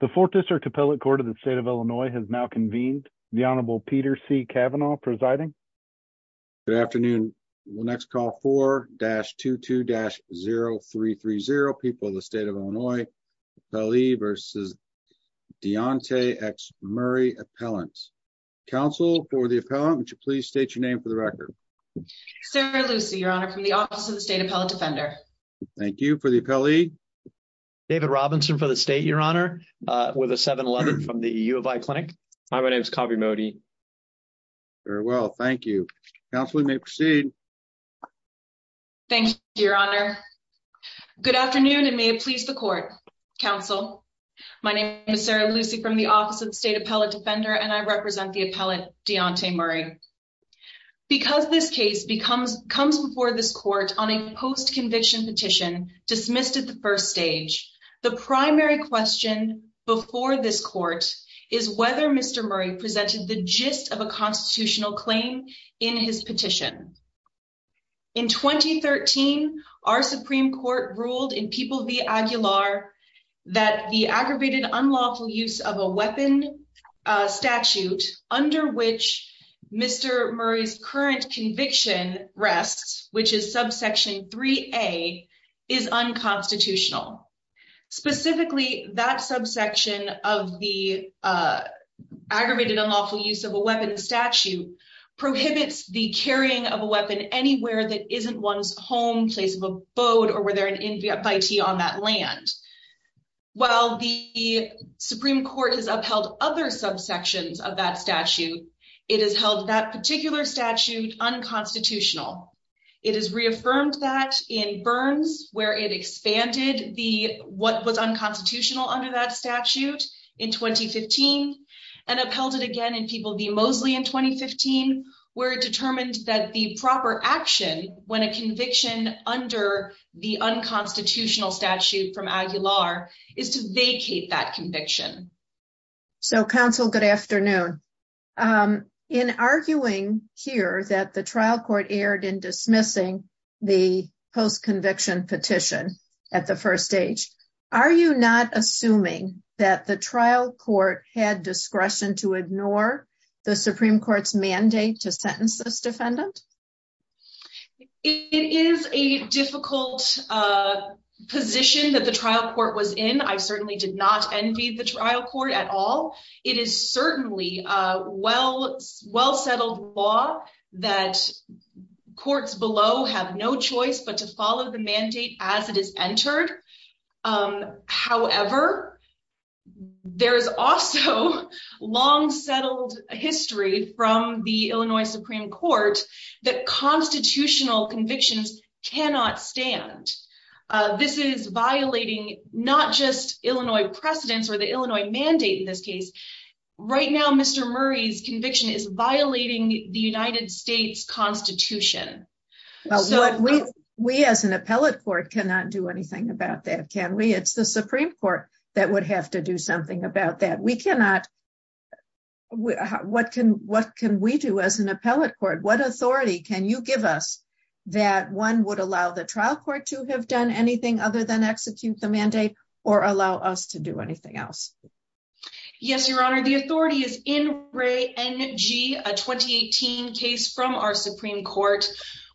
The fourth district appellate court of the state of Illinois has now convened. The Honorable Peter C. Cavanaugh presiding. Good afternoon. We'll next call for dash 22 dash 0330 people the state of Illinois. I believe versus Deontay x Murray appellants counsel for the appellant to please state your name for the record. So Lucy your honor from the office of the state appellate defender. Thank you for the appellee. David Robinson for the state Your Honor, with a 711 from the U of I clinic. Hi, my name is coffee Modi. Very well thank you. Now, if we may proceed. Thank you, Your Honor. Good afternoon and may it please the court counsel. My name is Sarah Lucy from the office of the state appellate defender and I represent the appellate Deontay Murray. Because this case becomes comes before this court on a post conviction petition dismissed at the first stage. The primary question before this court is whether Mr. Murray presented the gist of a constitutional claim in his petition. In 2013, our Supreme Court ruled in people the angular that the aggravated unlawful use of a weapon statute, under which Mr. Murray's current conviction rests, which is subsection three, a is unconstitutional. Specifically, that subsection of the aggravated unlawful use of a weapon statute prohibits the carrying of a weapon anywhere that isn't one's home place of abode or were there an invitee on that land. While the Supreme Court has upheld other subsections of that statute, it has held that particular statute unconstitutional. It is reaffirmed that in Burns, where it expanded the what was unconstitutional under that statute in 2015, and upheld it again and people the mostly in 2015, where it determined that the proper action when a conviction under the unconstitutional statute from is to vacate that conviction. So counsel, good afternoon. In arguing here that the trial court erred in dismissing the post conviction petition at the first stage. Are you not assuming that the trial court had discretion to ignore the Supreme Court's mandate to sentence this defendant. It is a difficult position that the trial court was in I certainly did not envy the trial court at all. It is certainly a well, well settled law that courts below have no choice but to follow the mandate, as it is entered. However, there's also long settled history from the Illinois Supreme Court that constitutional convictions, cannot stand. This is violating, not just Illinois precedents or the Illinois mandate in this case. Right now Mr Murray's conviction is violating the United States Constitution. So what we, we as an appellate court cannot do anything about that can we it's the Supreme Court, that would have to do something about that we cannot. What can, what can we do as an appellate court what authority, can you give us that one would allow the trial court to have done anything other than execute the mandate, or allow us to do anything else. Yes, Your Honor, the authority is in ray energy, a 2018 case from our Supreme Court,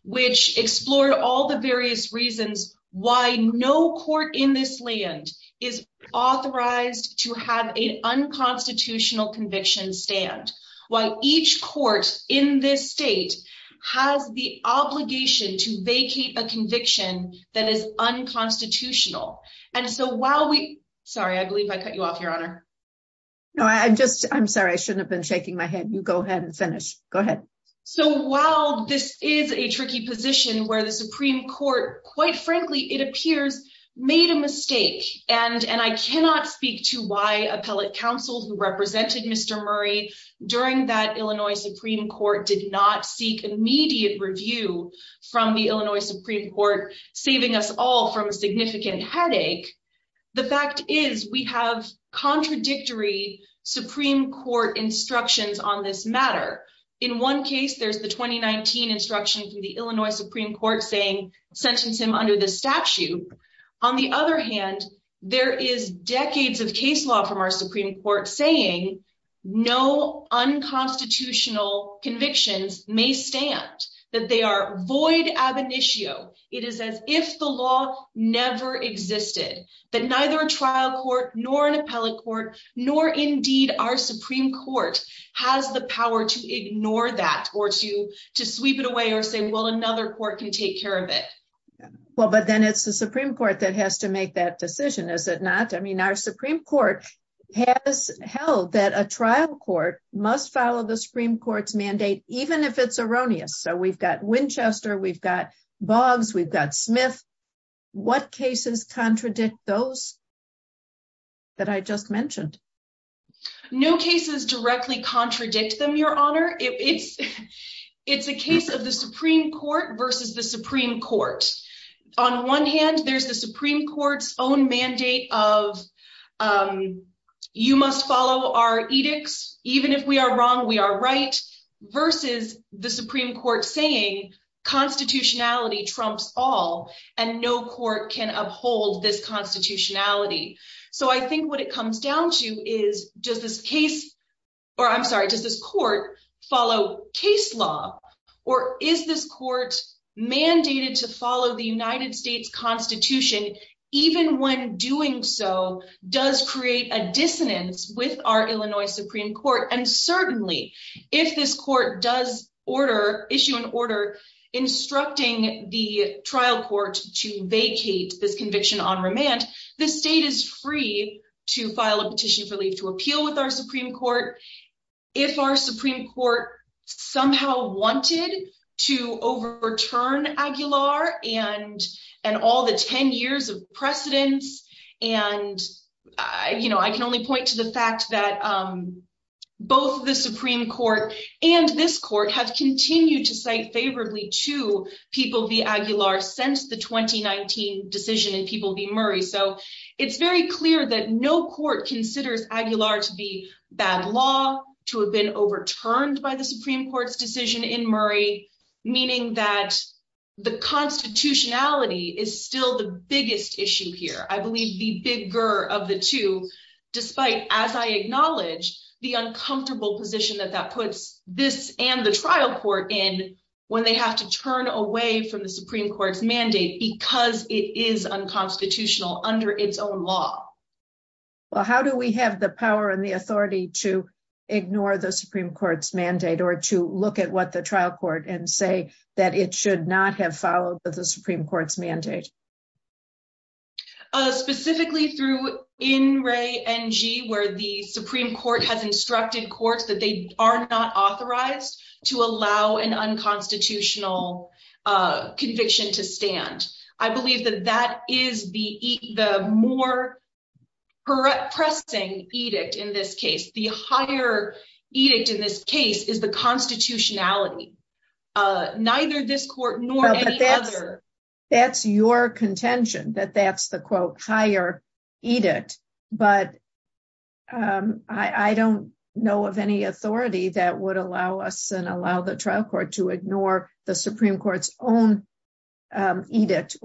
which explored all the various reasons why no court in this land is authorized to have a unconstitutional conviction stand. Why each court in this state has the obligation to vacate a conviction that is unconstitutional. And so while we sorry I believe I cut you off, Your Honor. No, I'm just, I'm sorry I shouldn't have been shaking my head you go ahead and finish. Go ahead. So while this is a tricky position where the Supreme Court, quite frankly, it appears, made a mistake, and and I cannot speak to why appellate counsel who represented Mr. Murray during that Illinois Supreme Court did not seek immediate review from the Illinois Supreme Court, saving us all from significant headache. The fact is we have contradictory Supreme Court instructions on this matter. In one case there's the 2019 instruction from the Illinois Supreme Court saying sentence him under the statute. On the other hand, there is decades of case law from our Supreme Court saying no unconstitutional convictions may stand that they are void ab initio, it is as if the law, never existed, that neither trial court, nor an appellate court, nor indeed our Supreme Court has the power to ignore that or to to sweep it away or say well another court can take care of it. Well, but then it's the Supreme Court that has to make that decision is it not I mean our Supreme Court has held that a trial court must follow the Supreme Court's mandate, even if it's erroneous so we've got Winchester we've got bugs we've got Smith. What cases contradict those that I just mentioned. No cases directly contradict them Your Honor, it's, it's a case of the Supreme Court versus the Supreme Court. On one hand, there's the Supreme Court's own mandate of you must follow our edicts, even if we are wrong we are right versus the Supreme to is, does this case, or I'm sorry does this court follow case law, or is this court mandated to follow the United States Constitution, even when doing so, does create a dissonance with our Illinois Supreme Court and certainly if this court does order issue an order instructing the trial court to vacate this conviction on remand, the state is free to file a petition for leave to appeal with our Supreme Court. If our Supreme Court, somehow wanted to overturn Aguilar and and all the 10 years of precedence. And, you know, I can only point to the fact that both the Supreme Court, and this court has continued to say favorably to people be Aguilar since the 2019 decision and people be Murray so it's very clear that no court considers Aguilar to be bad law to have been overturned by the Supreme Court's decision in Murray, meaning that the constitutionality is still the biggest issue here I believe the bigger of the two. Despite, as I acknowledge the uncomfortable position that that puts this and the trial court in when they have to turn away from the Supreme Court's mandate because it is unconstitutional under its own law. Well, how do we have the power and the authority to ignore the Supreme Court's mandate or to look at what the trial court and say that it should not have followed the Supreme Court's mandate. Specifically through in Ray and G where the Supreme Court has instructed courts that they are not authorized to allow an unconstitutional conviction to stand. That's your contention that that's the quote higher eat it, but I don't know of any authority that would allow us and allow the trial court to ignore the Supreme Court's own edict.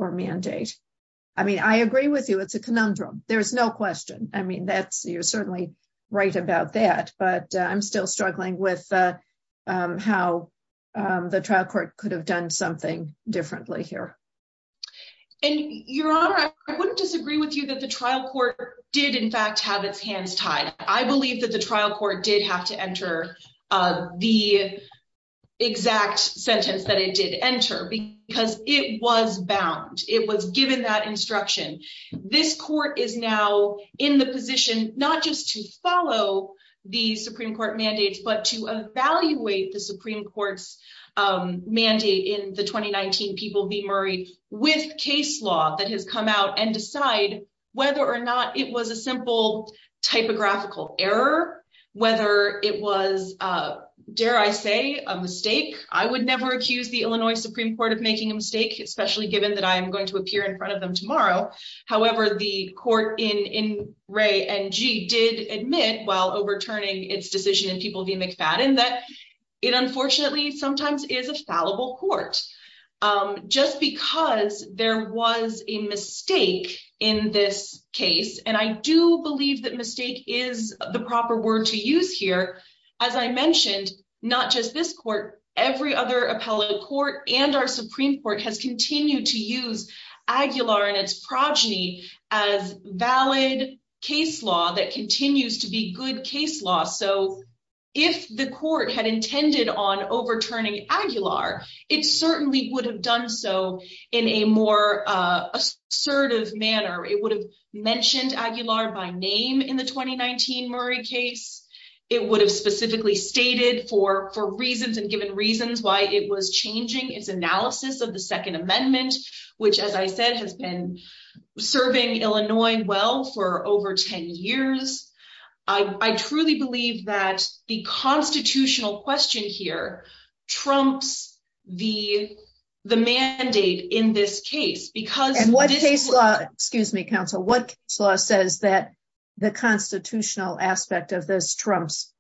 I mean, I agree with you. It's a conundrum. There's no question. I mean, that's you're certainly right about that, but I'm still struggling with how the trial court could have done something differently here. And your honor, I wouldn't disagree with you that the trial court did in fact have its hands tied. I believe that the trial court did have to enter the exact sentence that it did enter because it was bound. It was given that instruction. This court is now in the position, not just to follow the Supreme Court mandates, but to evaluate the Supreme Court's mandate in the 2019 people be Murray with case law that has come out and decide whether or not it was a simple typographical error. Whether it was, dare I say a mistake, I would never accuse the Illinois Supreme Court of making a mistake, especially given that I'm going to appear in front of them tomorrow. However, the court in Ray and G did admit while overturning its decision and people be McFadden that it unfortunately sometimes is a fallible court, just because there was a mistake in this case. And I do believe that mistake is the proper word to use here. As I mentioned, not just this court, every other appellate court and our Supreme Court has continued to use Aguilar and its progeny as valid case law that continues to be good case law. If the court had intended on overturning Aguilar, it certainly would have done so in a more assertive manner. It would have mentioned Aguilar by name in the 2019 Murray case. It would have specifically stated for reasons and given reasons why it was changing its analysis of the 2nd Amendment, which, as I said, has been serving Illinois well for over 10 years. I truly believe that the constitutional question here trumps the mandate in this case. And what case law, excuse me, counsel, what law says that the constitutional aspect of this trumps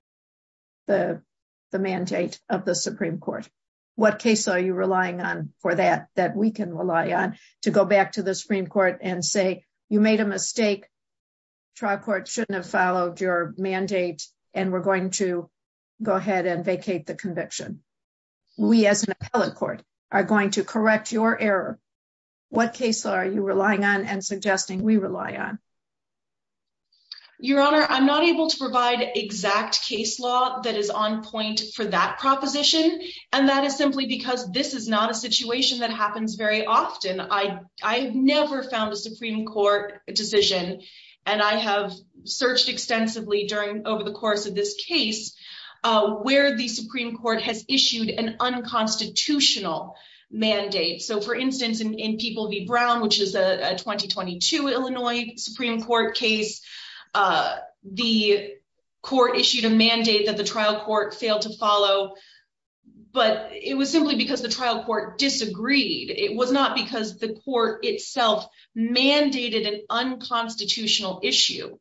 the mandate of the Supreme Court? What case are you relying on for that, that we can rely on to go back to the Supreme Court and say, you made a mistake. Trial court shouldn't have followed your mandate and we're going to go ahead and vacate the conviction. We, as an appellate court, are going to correct your error. What case are you relying on and suggesting we rely on? Your honor, I'm not able to provide exact case law that is on point for that proposition. And that is simply because this is not a situation that happens very often. I, I've never found a Supreme Court decision, and I have searched extensively during over the course of this case where the Supreme Court has issued an unconstitutional mandate. So, for instance, in People v. Brown, which is a 2022 Illinois Supreme Court case, the court issued a mandate that the trial court failed to follow. But it was simply because the trial court disagreed. It was not because the court itself mandated an unconstitutional issue.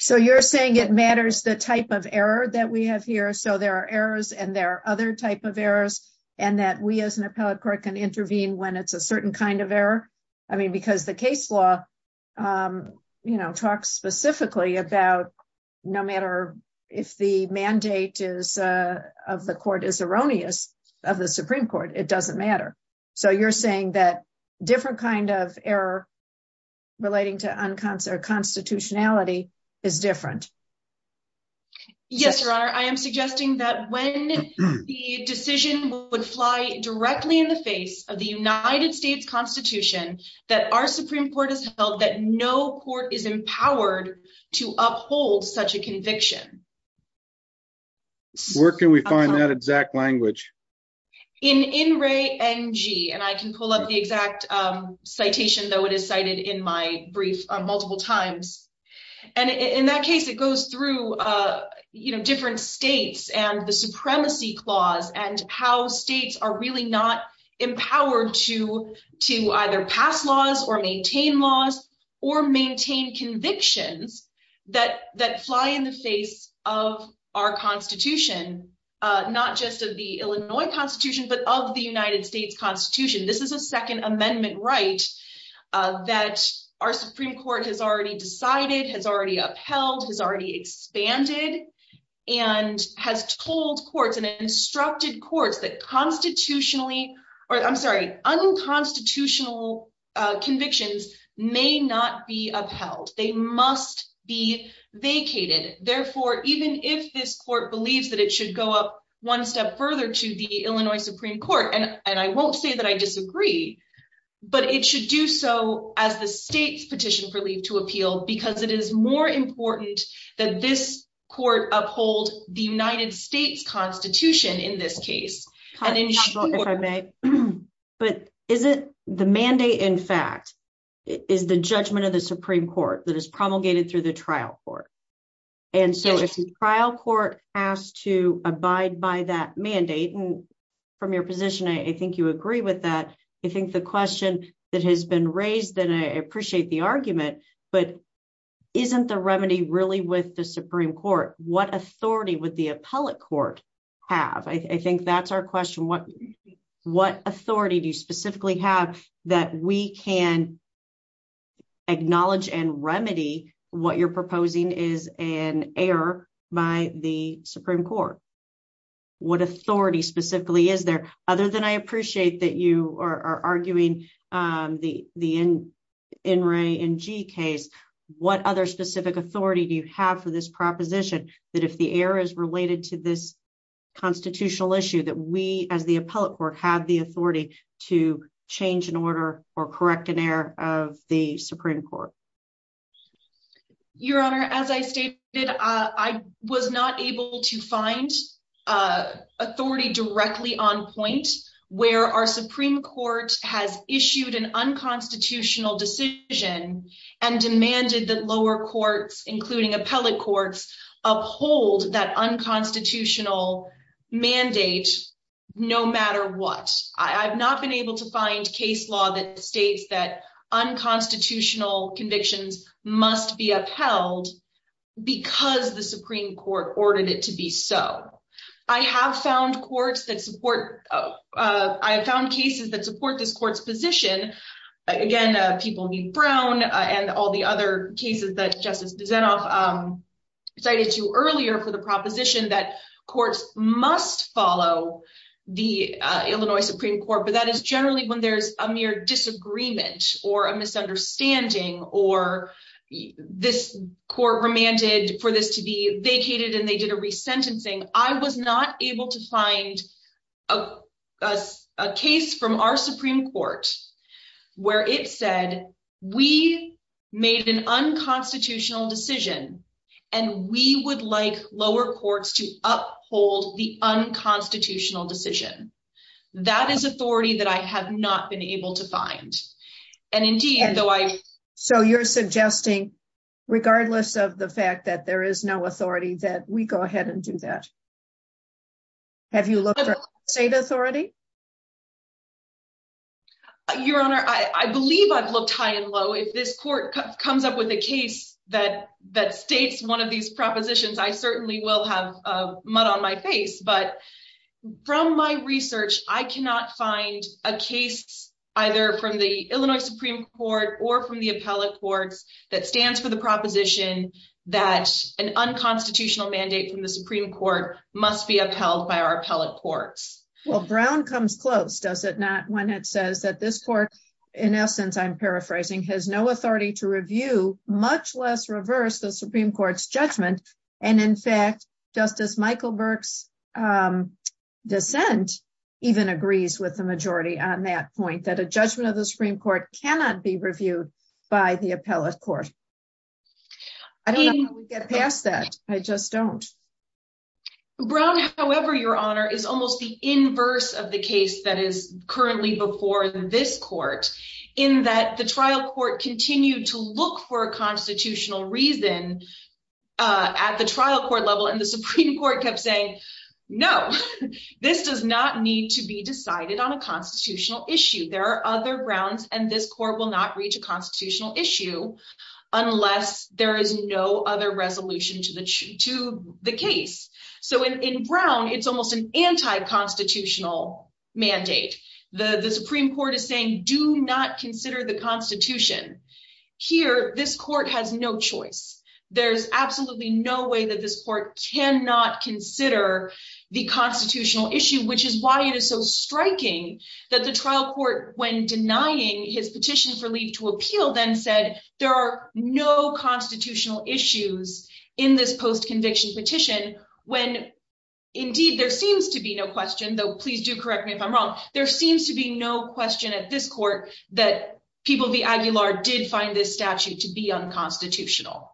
So you're saying it matters the type of error that we have here. So there are errors and there are other type of errors and that we, as an appellate court, can intervene when it's a certain kind of error. I mean, because the case law, you know, talks specifically about no matter if the mandate is of the court is erroneous of the Supreme Court, it doesn't matter. So you're saying that different kind of error relating to unconstitutionality is different. Yes, Your Honor, I am suggesting that when the decision would fly directly in the face of the United States Constitution, that our Supreme Court has held that no court is empowered to uphold such a conviction. Where can we find that exact language? In In Re NG, and I can pull up the exact citation, though it is cited in my brief multiple times. And in that case, it goes through, you know, different states and the supremacy clause and how states are really not empowered to to either pass laws or maintain laws or maintain convictions that that fly in the face of our Constitution, not just of the Illinois Constitution, but of the United States Constitution. This is a Second Amendment right that our Supreme Court has already decided, has already upheld, has already expanded and has told courts and instructed courts that constitutionally or I'm sorry, unconstitutional convictions may not be upheld. They must be vacated. Therefore, even if this court believes that it should go up one step further to the Illinois Supreme Court, and I won't say that I disagree, but it should do so as the state's petition for leave to appeal, because it is more important that this court uphold the United States Constitution in this case. If I may, but is it the mandate, in fact, is the judgment of the Supreme Court that is promulgated through the trial court? And so if the trial court has to abide by that mandate from your position, I think you agree with that. I think the question that has been raised, and I appreciate the argument, but isn't the remedy really with the Supreme Court? What authority would the appellate court have? I think that's our question. What authority do you specifically have that we can acknowledge and remedy what you're proposing is an error by the Supreme Court? What authority specifically is there? Other than I appreciate that you are arguing the NRA and G case, what other specific authority do you have for this proposition that if the error is related to this constitutional issue that we as the appellate court have the authority to change an order or correct an error of the Supreme Court? Your Honor, as I stated, I was not able to find authority directly on point where our Supreme Court has issued an unconstitutional decision and demanded that lower courts, including appellate courts, uphold that unconstitutional mandate, no matter what. I've not been able to find case law that states that unconstitutional convictions must be upheld because the Supreme Court ordered it to be so. I have found cases that support this court's position. Again, people need Brown and all the other cases that Justice DeZenof cited to earlier for the proposition that courts must follow the Illinois Supreme Court, but that is generally when there's a mere disagreement or a misunderstanding or this court remanded for this to be vacated and they did a resentencing. I was not able to find a case from our Supreme Court where it said we made an unconstitutional decision and we would like lower courts to uphold the unconstitutional decision. That is authority that I have not been able to find. So you're suggesting, regardless of the fact that there is no authority, that we go ahead and do that? Have you looked at state authority? Your Honor, I believe I've looked high and low. If this court comes up with a case that states one of these propositions, I certainly will have mud on my face. But from my research, I cannot find a case either from the Illinois Supreme Court or from the appellate courts that stands for the proposition that an unconstitutional mandate from the Supreme Court must be upheld by our appellate courts. Well, Brown comes close, does it not, when it says that this court, in essence, I'm paraphrasing, has no authority to review, much less reverse the Supreme Court's judgment. And in fact, Justice Michael Burke's dissent even agrees with the majority on that point, that a judgment of the Supreme Court cannot be reviewed by the appellate court. I don't know how we get past that. I just don't. Brown, however, Your Honor, is almost the inverse of the case that is currently before this court, in that the trial court continued to look for a constitutional reason at the trial court level, and the Supreme Court kept saying, no, this does not need to be decided on a constitutional issue. There are other grounds, and this court will not reach a constitutional issue unless there is no other resolution to the case. So in Brown, it's almost an anti-constitutional mandate. The Supreme Court is saying, do not consider the Constitution. Here, this court has no choice. There's absolutely no way that this court cannot consider the constitutional issue, which is why it is so striking that the trial court, when denying his petition for leave to appeal, then said, there are no constitutional issues in this post-conviction petition when, indeed, there seems to be no question, though please do correct me if I'm wrong, there seems to be no question at this court that people v. Aguilar did find this statute to be unconstitutional.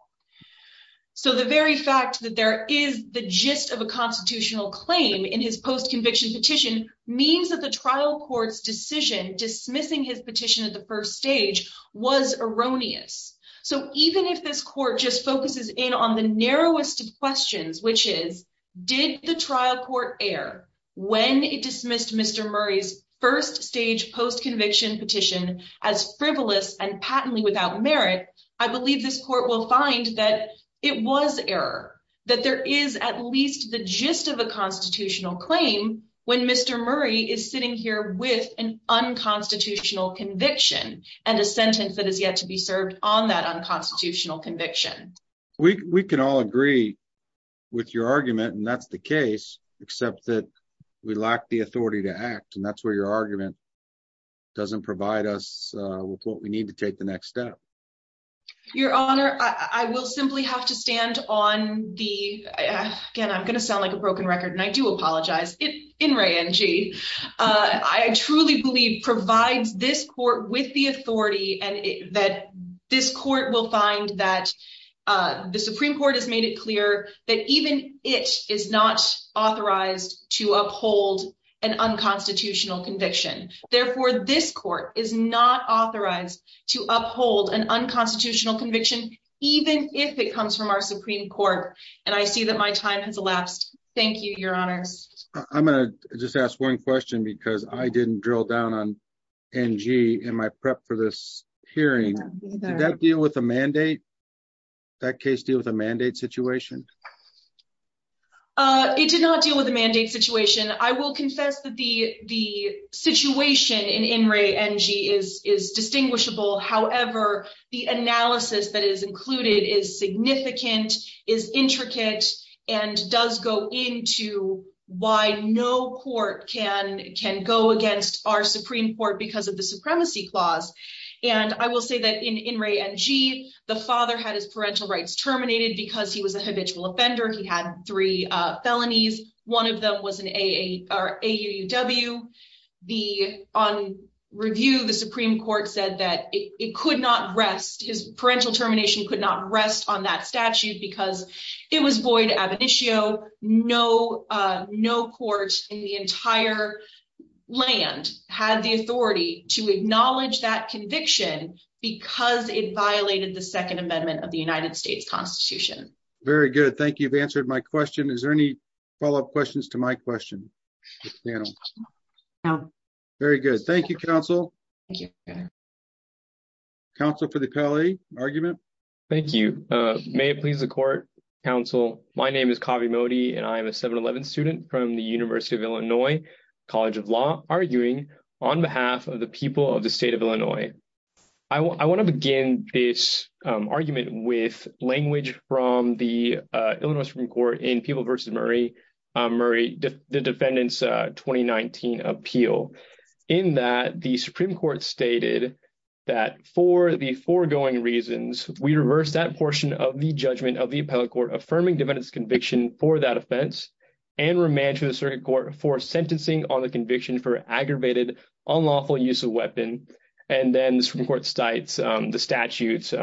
So the very fact that there is the gist of a constitutional claim in his post-conviction petition means that the trial court's decision dismissing his petition at the first stage was erroneous. So even if this court just focuses in on the narrowest of questions, which is, did the trial court err when it dismissed Mr. Murray's first stage post-conviction petition as frivolous and patently without merit, I believe this court will find that it was error. That there is at least the gist of a constitutional claim when Mr. Murray is sitting here with an unconstitutional conviction and a sentence that is yet to be served on that unconstitutional conviction. We can all agree with your argument, and that's the case, except that we lack the authority to act, and that's where your argument doesn't provide us with what we need to take the next step. Your Honor, I will simply have to stand on the – again, I'm going to sound like a broken record, and I do apologize. In re-en-gee, I truly believe provides this court with the authority that this court will find that the Supreme Court has made it clear that even it is not authorized to uphold an unconstitutional conviction. Therefore, this court is not authorized to uphold an unconstitutional conviction, even if it comes from our Supreme Court. And I see that my time has elapsed. Thank you, Your Honors. I'm going to just ask one question because I didn't drill down on NG in my prep for this hearing. Did that deal with a mandate? Did that case deal with a mandate situation? It did not deal with a mandate situation. I will confess that the situation in in re-en-gee is distinguishable. However, the analysis that is included is significant, is intricate, and does go into why no court can go against our Supreme Court because of the supremacy clause. And I will say that in re-en-gee, the father had his parental rights terminated because he was a habitual offender. He had three felonies. One of them was an AAUW. On review, the Supreme Court said that it could not rest – his parental termination could not rest on that statute because it was void ab initio. No court in the entire land had the authority to acknowledge that conviction because it violated the Second Amendment of the United States Constitution. Very good. Thank you. You've answered my question. Is there any follow-up questions to my question? No. Very good. Thank you, Counsel. Thank you. Counsel for the Pele argument. Thank you. May it please the Court, Counsel. My name is Kavi Modi, and I am a 711 student from the University of Illinois College of Law, arguing on behalf of the people of the state of Illinois. I want to begin this argument with language from the Illinois Supreme Court in Pele v. Murray, the defendant's 2019 appeal. In that, the Supreme Court stated that for the foregoing reasons, we reverse that portion of the judgment of the appellate court affirming defendant's conviction for that offense and remand to the circuit court for sentencing on the conviction for aggravated, unlawful use of weapon. And then the Supreme Court cites the statutes,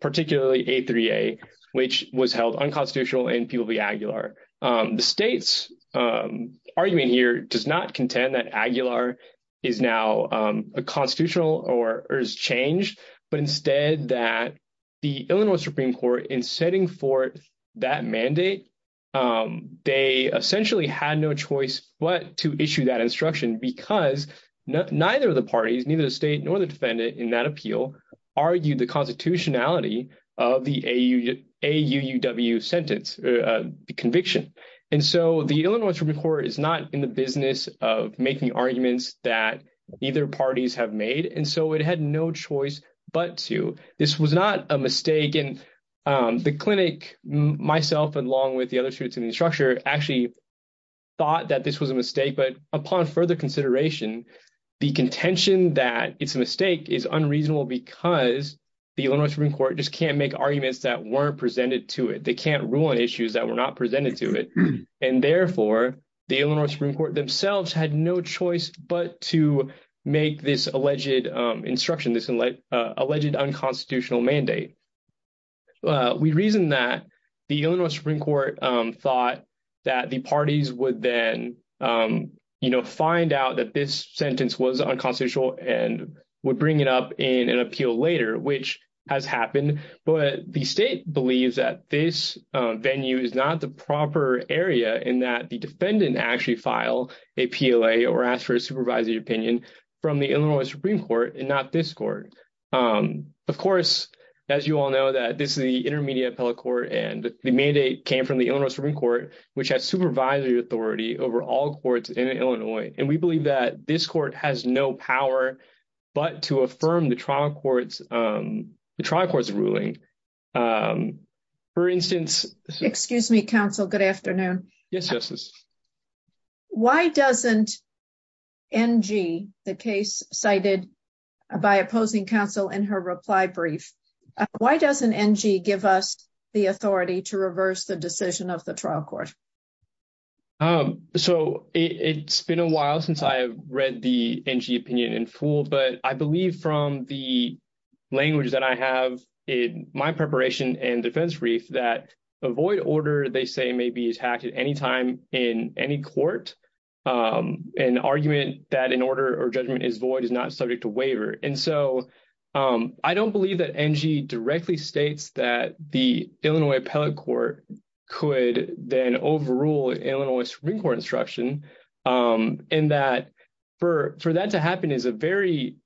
particularly A3A, which was held unconstitutional in Pele v. Aguilar. The state's argument here does not contend that Aguilar is now constitutional or has changed, but instead that the Illinois Supreme Court, in setting forth that mandate, they essentially had no choice but to issue that instruction because neither of the parties, neither the state nor the defendant in that appeal, argued the constitutionality of the AUW sentence conviction. And so the Illinois Supreme Court is not in the business of making arguments that either parties have made, and so it had no choice but to. This was not a mistake, and the clinic, myself, along with the other students in the structure, actually thought that this was a mistake. But upon further consideration, the contention that it's a mistake is unreasonable because the Illinois Supreme Court just can't make arguments that weren't presented to it. They can't rule on issues that were not presented to it. And therefore, the Illinois Supreme Court themselves had no choice but to make this alleged instruction, this alleged unconstitutional mandate. We reason that the Illinois Supreme Court thought that the parties would then find out that this sentence was unconstitutional and would bring it up in an appeal later, which has happened. But the state believes that this venue is not the proper area in that the defendant actually filed a PLA or asked for a supervisory opinion from the Illinois Supreme Court and not this court. Of course, as you all know, that this is the Intermediate Appellate Court, and the mandate came from the Illinois Supreme Court, which has supervisory authority over all courts in Illinois. And we believe that this court has no power but to affirm the trial court's ruling. For instance... Excuse me, counsel. Good afternoon. Yes, Justice. Why doesn't N.G., the case cited by opposing counsel in her reply brief, why doesn't N.G. give us the authority to reverse the decision of the trial court? So it's been a while since I've read the N.G. opinion in full, but I believe from the language that I have in my preparation and defense brief that a void order, they say, may be attacked at any time in any court. An argument that an order or judgment is void is not subject to waiver. And so I don't believe that N.G. directly states that the Illinois Appellate Court could then overrule Illinois Supreme Court instruction. And that for that to happen is a very,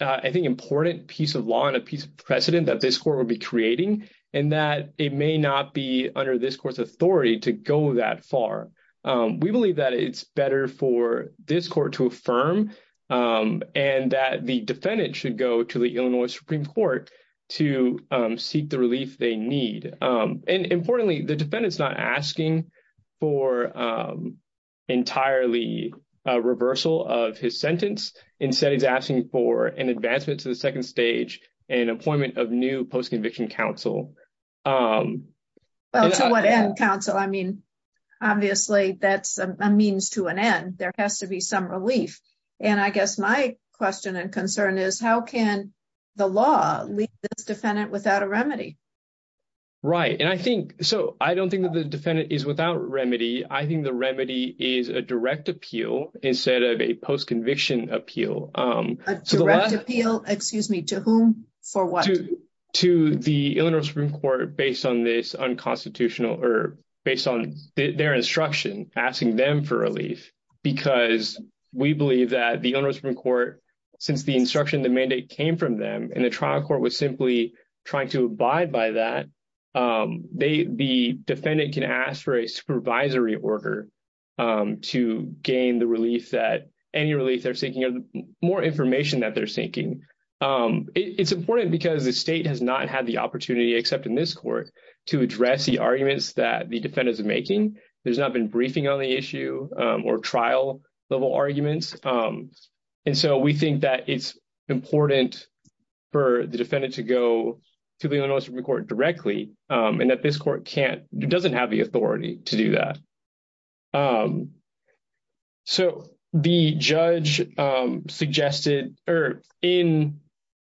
I think, important piece of law and a piece of precedent that this court would be creating, and that it may not be under this court's authority to go that far. We believe that it's better for this court to affirm and that the defendant should go to the Illinois Supreme Court to seek the relief they need. And importantly, the defendant's not asking for entirely reversal of his sentence. Instead, he's asking for an advancement to the second stage and appointment of new post-conviction counsel. Well, to what end, counsel? I mean, obviously, that's a means to an end. There has to be some relief. And I guess my question and concern is how can the law leave this defendant without a remedy? Right. And I think so. I don't think that the defendant is without remedy. I think the remedy is a direct appeal instead of a post-conviction appeal. A direct appeal, excuse me, to whom? For what? To the Illinois Supreme Court based on this unconstitutional or based on their instruction, asking them for relief. Because we believe that the Illinois Supreme Court, since the instruction, the mandate came from them, and the trial court was simply trying to abide by that, the defendant can ask for a supervisory order to gain the relief that any relief they're seeking or more information that they're seeking. It's important because the state has not had the opportunity, except in this court, to address the arguments that the defendants are making. There's not been briefing on the issue or trial-level arguments. And so we think that it's important for the defendant to go to the Illinois Supreme Court directly and that this court can't, doesn't have the authority to do that. So the judge suggested, or in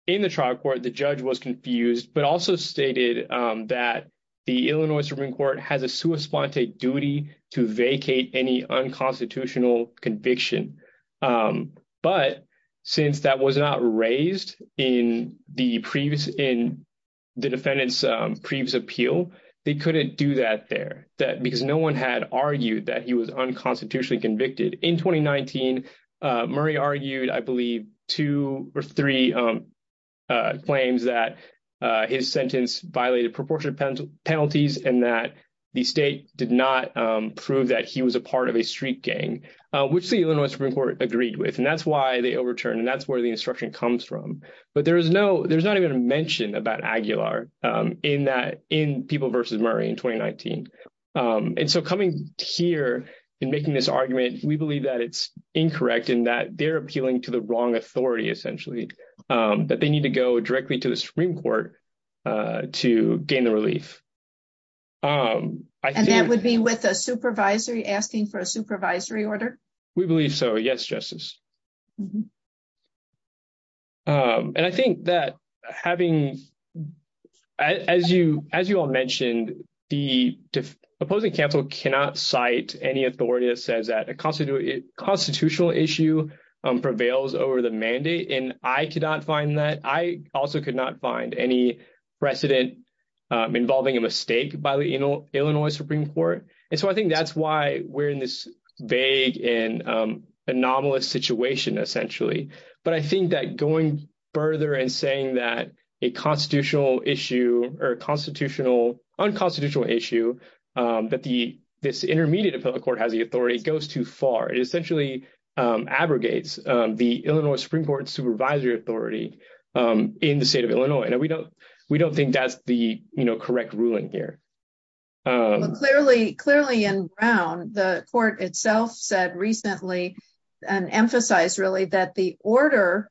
the trial court, the judge was confused, but also stated that the Illinois Supreme Court has a sua sponte duty to vacate any unconstitutional conviction. But since that was not raised in the defendant's previous appeal, they couldn't do that there, because no one had argued that he was unconstitutionally convicted. In 2019, Murray argued, I believe, two or three claims that his sentence violated proportionate penalties and that the state did not prove that he was a part of a street gang, which the Illinois Supreme Court agreed with, and that's why they overturned, and that's where the instruction comes from. But there's not even a mention about Aguilar in People v. Murray in 2019. And so coming here and making this argument, we believe that it's incorrect and that they're appealing to the wrong authority, essentially, that they need to go directly to the Supreme Court to gain the relief. And that would be with a supervisory, asking for a supervisory order? We believe so, yes, Justice. And I think that having, as you all mentioned, the opposing counsel cannot cite any authority that says that a constitutional issue prevails over the mandate, and I could not find that. I also could not find any precedent involving a mistake by the Illinois Supreme Court. And so I think that's why we're in this vague and anomalous situation, essentially. But I think that going further and saying that a constitutional issue, or a constitutional, unconstitutional issue, that this intermediate appellate court has the authority goes too far. It essentially abrogates the Illinois Supreme Court's supervisory authority in the state of Illinois, and we don't think that's the correct ruling here. Clearly in Brown, the court itself said recently, and emphasized really, that the order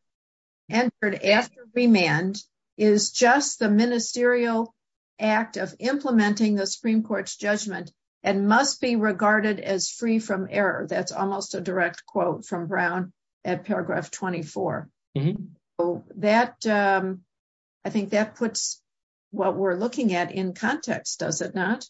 entered after remand is just the ministerial act of implementing the Supreme Court's judgment and must be regarded as free from error. That's almost a direct quote from Brown at paragraph 24. I think that puts what we're looking at in context, does it not?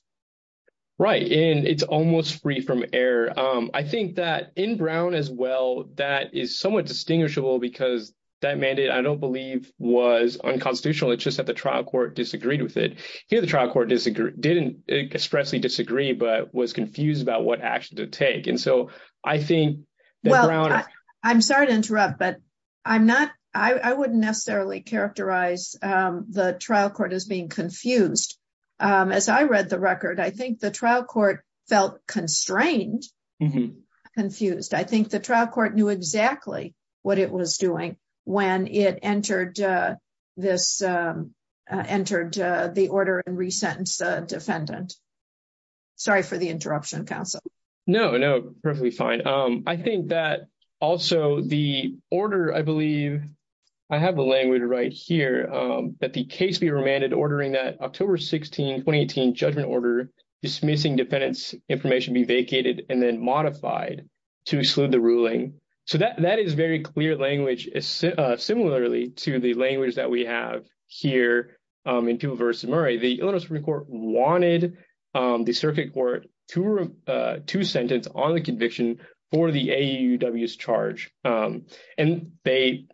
Right, and it's almost free from error. I think that in Brown as well, that is somewhat distinguishable because that mandate, I don't believe, was unconstitutional. It's just that the trial court disagreed with it. Here, the trial court didn't expressly disagree, but was confused about what action to take. I'm sorry to interrupt, but I wouldn't necessarily characterize the trial court as being confused. As I read the record, I think the trial court felt constrained, confused. I think the trial court knew exactly what it was doing when it entered the order and resentenced the defendant. Sorry for the interruption, counsel. No, no, perfectly fine. I think that also the order, I believe, I have the language right here, that the case be remanded ordering that October 16, 2018 judgment order dismissing defendant's information be vacated and then modified to exclude the ruling. So that is very clear language, similarly to the language that we have here in Peeble v. Murray. The Illinois Supreme Court wanted the circuit court to sentence on the conviction for the AUW's charge. And they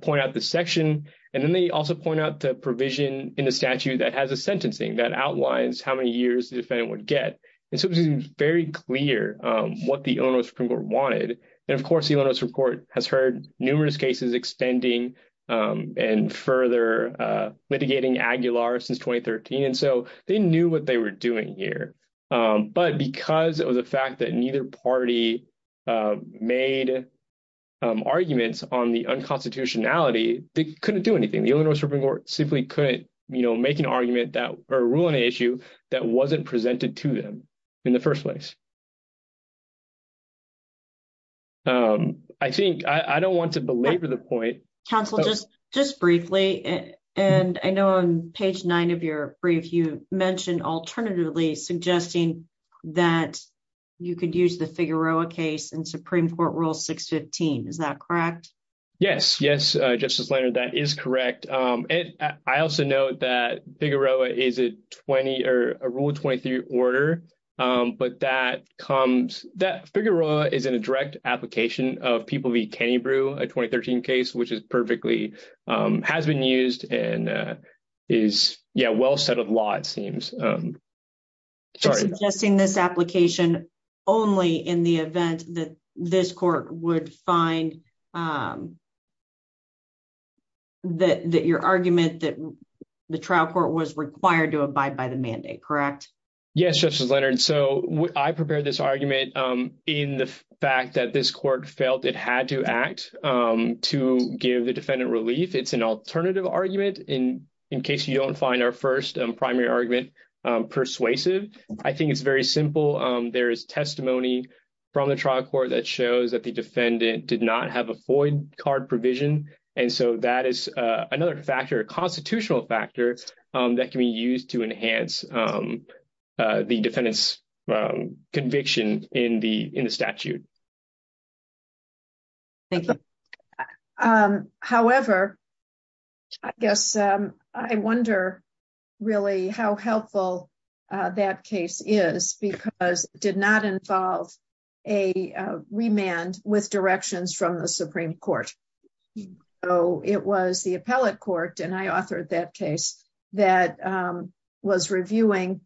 point out the section, and then they also point out the provision in the statute that has a sentencing that outlines how many years the defendant would get. It seems very clear what the Illinois Supreme Court wanted. And, of course, the Illinois Supreme Court has heard numerous cases extending and further litigating Aguilar since 2013. And so they knew what they were doing here. But because of the fact that neither party made arguments on the unconstitutionality, they couldn't do anything. The Illinois Supreme Court simply couldn't make an argument or rule on an issue that wasn't presented to them in the first place. I think I don't want to belabor the point. Counsel, just briefly, and I know on page nine of your brief, you mentioned alternatively suggesting that you could use the Figueroa case in Supreme Court Rule 615. Is that correct? Yes, yes, Justice Leonard, that is correct. I also note that Figueroa is a Rule 23 order, but that comes – that Figueroa is in a direct application of people v. Cannybrew, a 2013 case, which is perfectly – has been used and is, yeah, well set of law, it seems. Just suggesting this application only in the event that this court would find that your argument that the trial court was required to abide by the mandate, correct? Yes, Justice Leonard, so I prepared this argument in the fact that this court felt it had to act to give the defendant relief. It's an alternative argument in case you don't find our first primary argument persuasive. I think it's very simple. There is testimony from the trial court that shows that the defendant did not have a FOID card provision, and so that is another factor, a constitutional factor, that can be used to enhance the defendant's conviction in the statute. Thank you. However, I guess I wonder really how helpful that case is because it did not involve a remand with directions from the Supreme Court. So it was the appellate court, and I authored that case, that was reviewing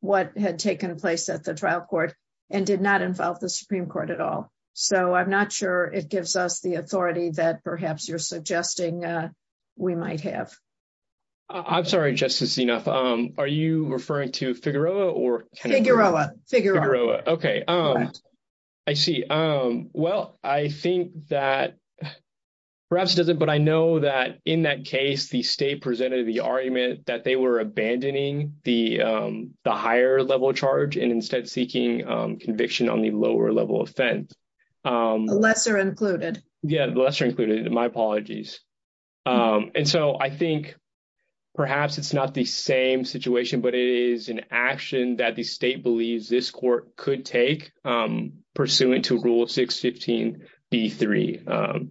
what had taken place at the trial court and did not involve the Supreme Court at all. So I'm not sure it gives us the authority that perhaps you're suggesting we might have. I'm sorry, Justice Zinuff. Are you referring to Figueroa or – Figueroa. Figueroa. I see. Well, I think that – perhaps it doesn't, but I know that in that case the state presented the argument that they were abandoning the higher-level charge and instead seeking conviction on the lower-level offense. The lesser included. Yeah, the lesser included. My apologies. And so I think perhaps it's not the same situation, but it is an action that the state believes this court could take pursuant to Rule 615B3.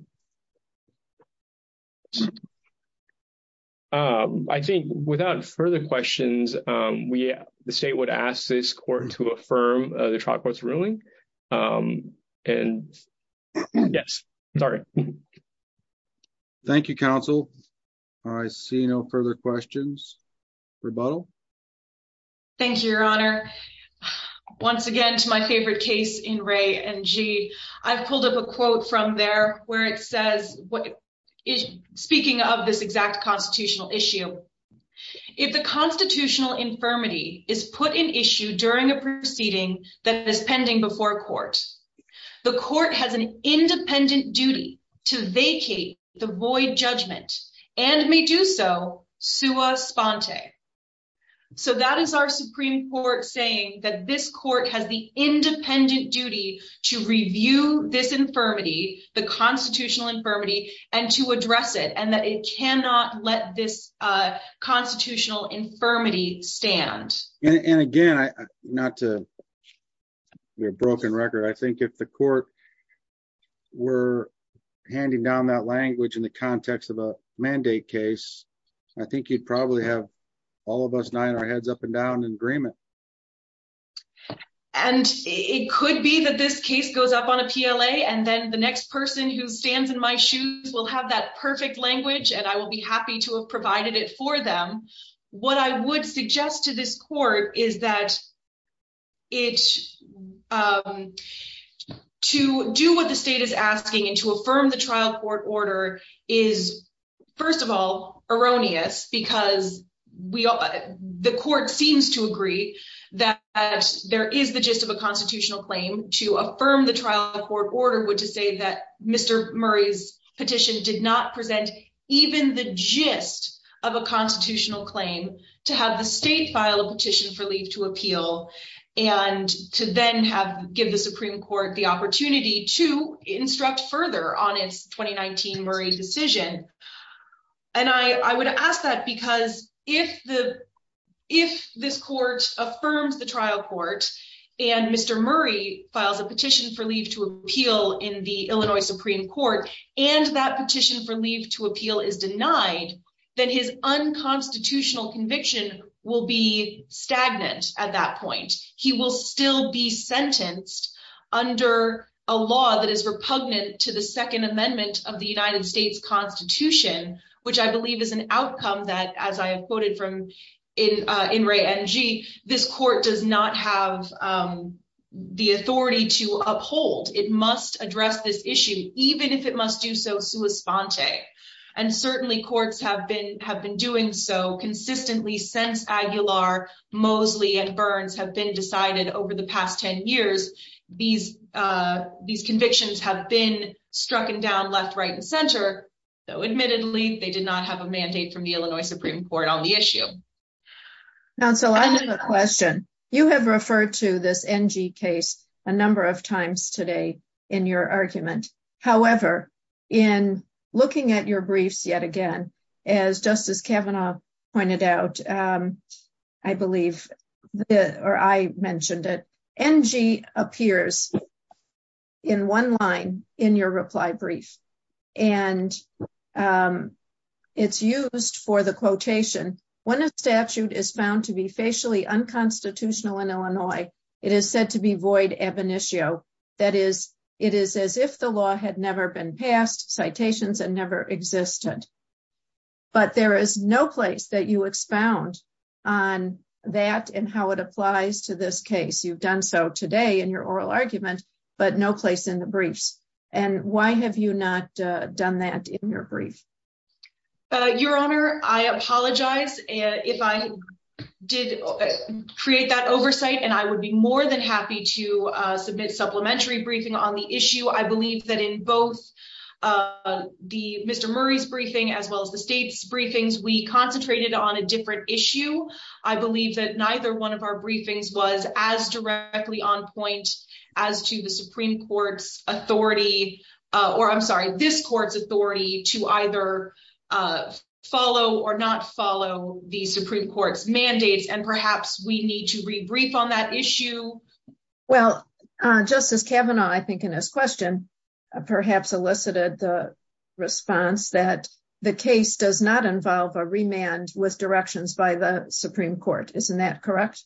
I think without further questions, the state would ask this court to affirm the trial court's ruling. Yes, sorry. Thank you, Counsel. I see no further questions. Rebuttal. Thank you, Your Honor. Once again, to my favorite case in Ray and G, I've pulled up a quote from there where it says – speaking of this exact constitutional issue. If the constitutional infirmity is put in issue during a proceeding that is pending before court, the court has an independent duty to vacate the void judgment and may do so sua sponte. So that is our Supreme Court saying that this court has the independent duty to review this infirmity, the constitutional infirmity, and to address it, and that it cannot let this constitutional infirmity stand. And again, not to be a broken record, I think if the court were handing down that language in the context of a mandate case, I think you'd probably have all of us nodding our heads up and down in agreement. And it could be that this case goes up on a PLA and then the next person who stands in my shoes will have that perfect language and I will be happy to have provided it for them. What I would suggest to this court is that to do what the state is asking and to affirm the trial court order is, first of all, erroneous because the court seems to agree that there is the gist of a constitutional claim. And I would ask that because if the, if this court affirms the trial court, and Mr. Murray filed a petition for leave to appeal, and the Supreme Court did not present even the gist of a constitutional claim to have the state file a petition for leave to appeal, and to then have, give the Supreme Court the opportunity to instruct further on its 2019 Murray decision. And I would ask that because if the, if this court affirms the trial court, and Mr. Murray files a petition for leave to appeal in the Illinois Supreme Court, and that petition for leave to appeal is denied, then his unconstitutional conviction will be stagnant at that point. He will still be sentenced under a law that is repugnant to the Second Amendment of the United States Constitution, which I believe is an outcome that, as I have quoted from, in Ray NG, this court does not have the authority to uphold. It must address this issue, even if it must do so sua sponte. And certainly courts have been, have been doing so consistently since Aguilar, Mosley, and Burns have been decided over the past 10 years. These, these convictions have been strucken down left, right, and center, though admittedly they did not have a mandate from the Illinois Supreme Court on the issue. Counsel, I have a question. You have referred to this NG case a number of times today in your argument. However, in looking at your briefs yet again, as Justice Kavanaugh pointed out, I believe, or I mentioned it, NG appears in one line in your reply brief. And it's used for the quotation, when a statute is found to be facially unconstitutional in Illinois, it is said to be void ab initio. That is, it is as if the law had never been passed, citations had never existed. But there is no place that you expound on that and how it applies to this case. You've done so today in your oral argument, but no place in the briefs. And why have you not done that in your brief? Your Honor, I apologize if I did create that oversight, and I would be more than happy to submit supplementary briefing on the issue. I believe that in both the Mr. Murray's briefing, as well as the state's briefings, we concentrated on a different issue. I believe that neither one of our briefings was as directly on point as to the Supreme Court's authority, or I'm sorry, this court's authority to either follow or not follow the Supreme Court's mandates. And perhaps we need to rebrief on that issue. Well, Justice Kavanaugh, I think in his question, perhaps elicited the response that the case does not involve a remand with directions by the Supreme Court. Isn't that correct?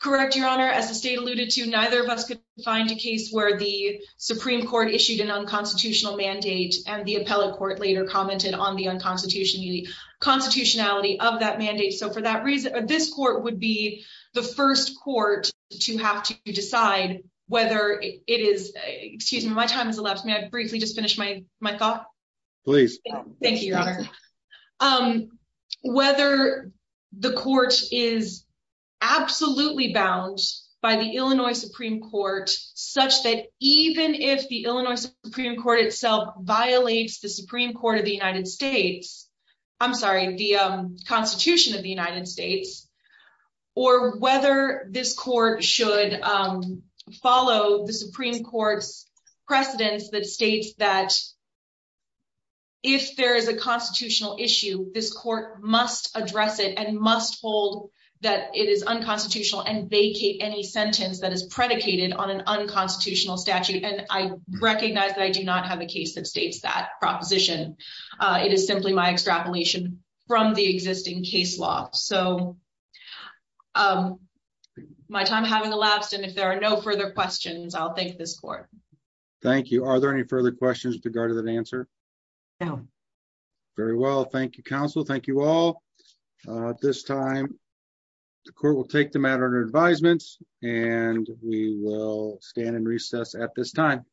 Correct. Your Honor, as the state alluded to, neither of us could find a case where the Supreme Court issued an unconstitutional mandate and the appellate court later commented on the unconstitutionality of that mandate. So for that reason, this court would be the first court to have to decide whether it is, excuse me, my time has elapsed. May I briefly just finish my thought? Please. Thank you, Your Honor. Whether the court is absolutely bound by the Illinois Supreme Court, such that even if the Illinois Supreme Court itself violates the Supreme Court of the United States, I'm sorry, the Constitution of the United States, or whether this court should follow the Supreme Court's precedence that states that if there is a constitutional issue, this court must address it and must hold that it is unconstitutional and vacate any sentence that is predicated on an unconstitutional statute. And I recognize that I do not have a case that states that proposition. It is simply my extrapolation from the existing case law. So my time having elapsed. And if there are no further questions, I'll thank this court. Thank you. Are there any further questions with regard to that answer? No. Very well. Thank you, counsel. Thank you all. This time, the court will take the matter under advisement, and we will stand in recess at this time.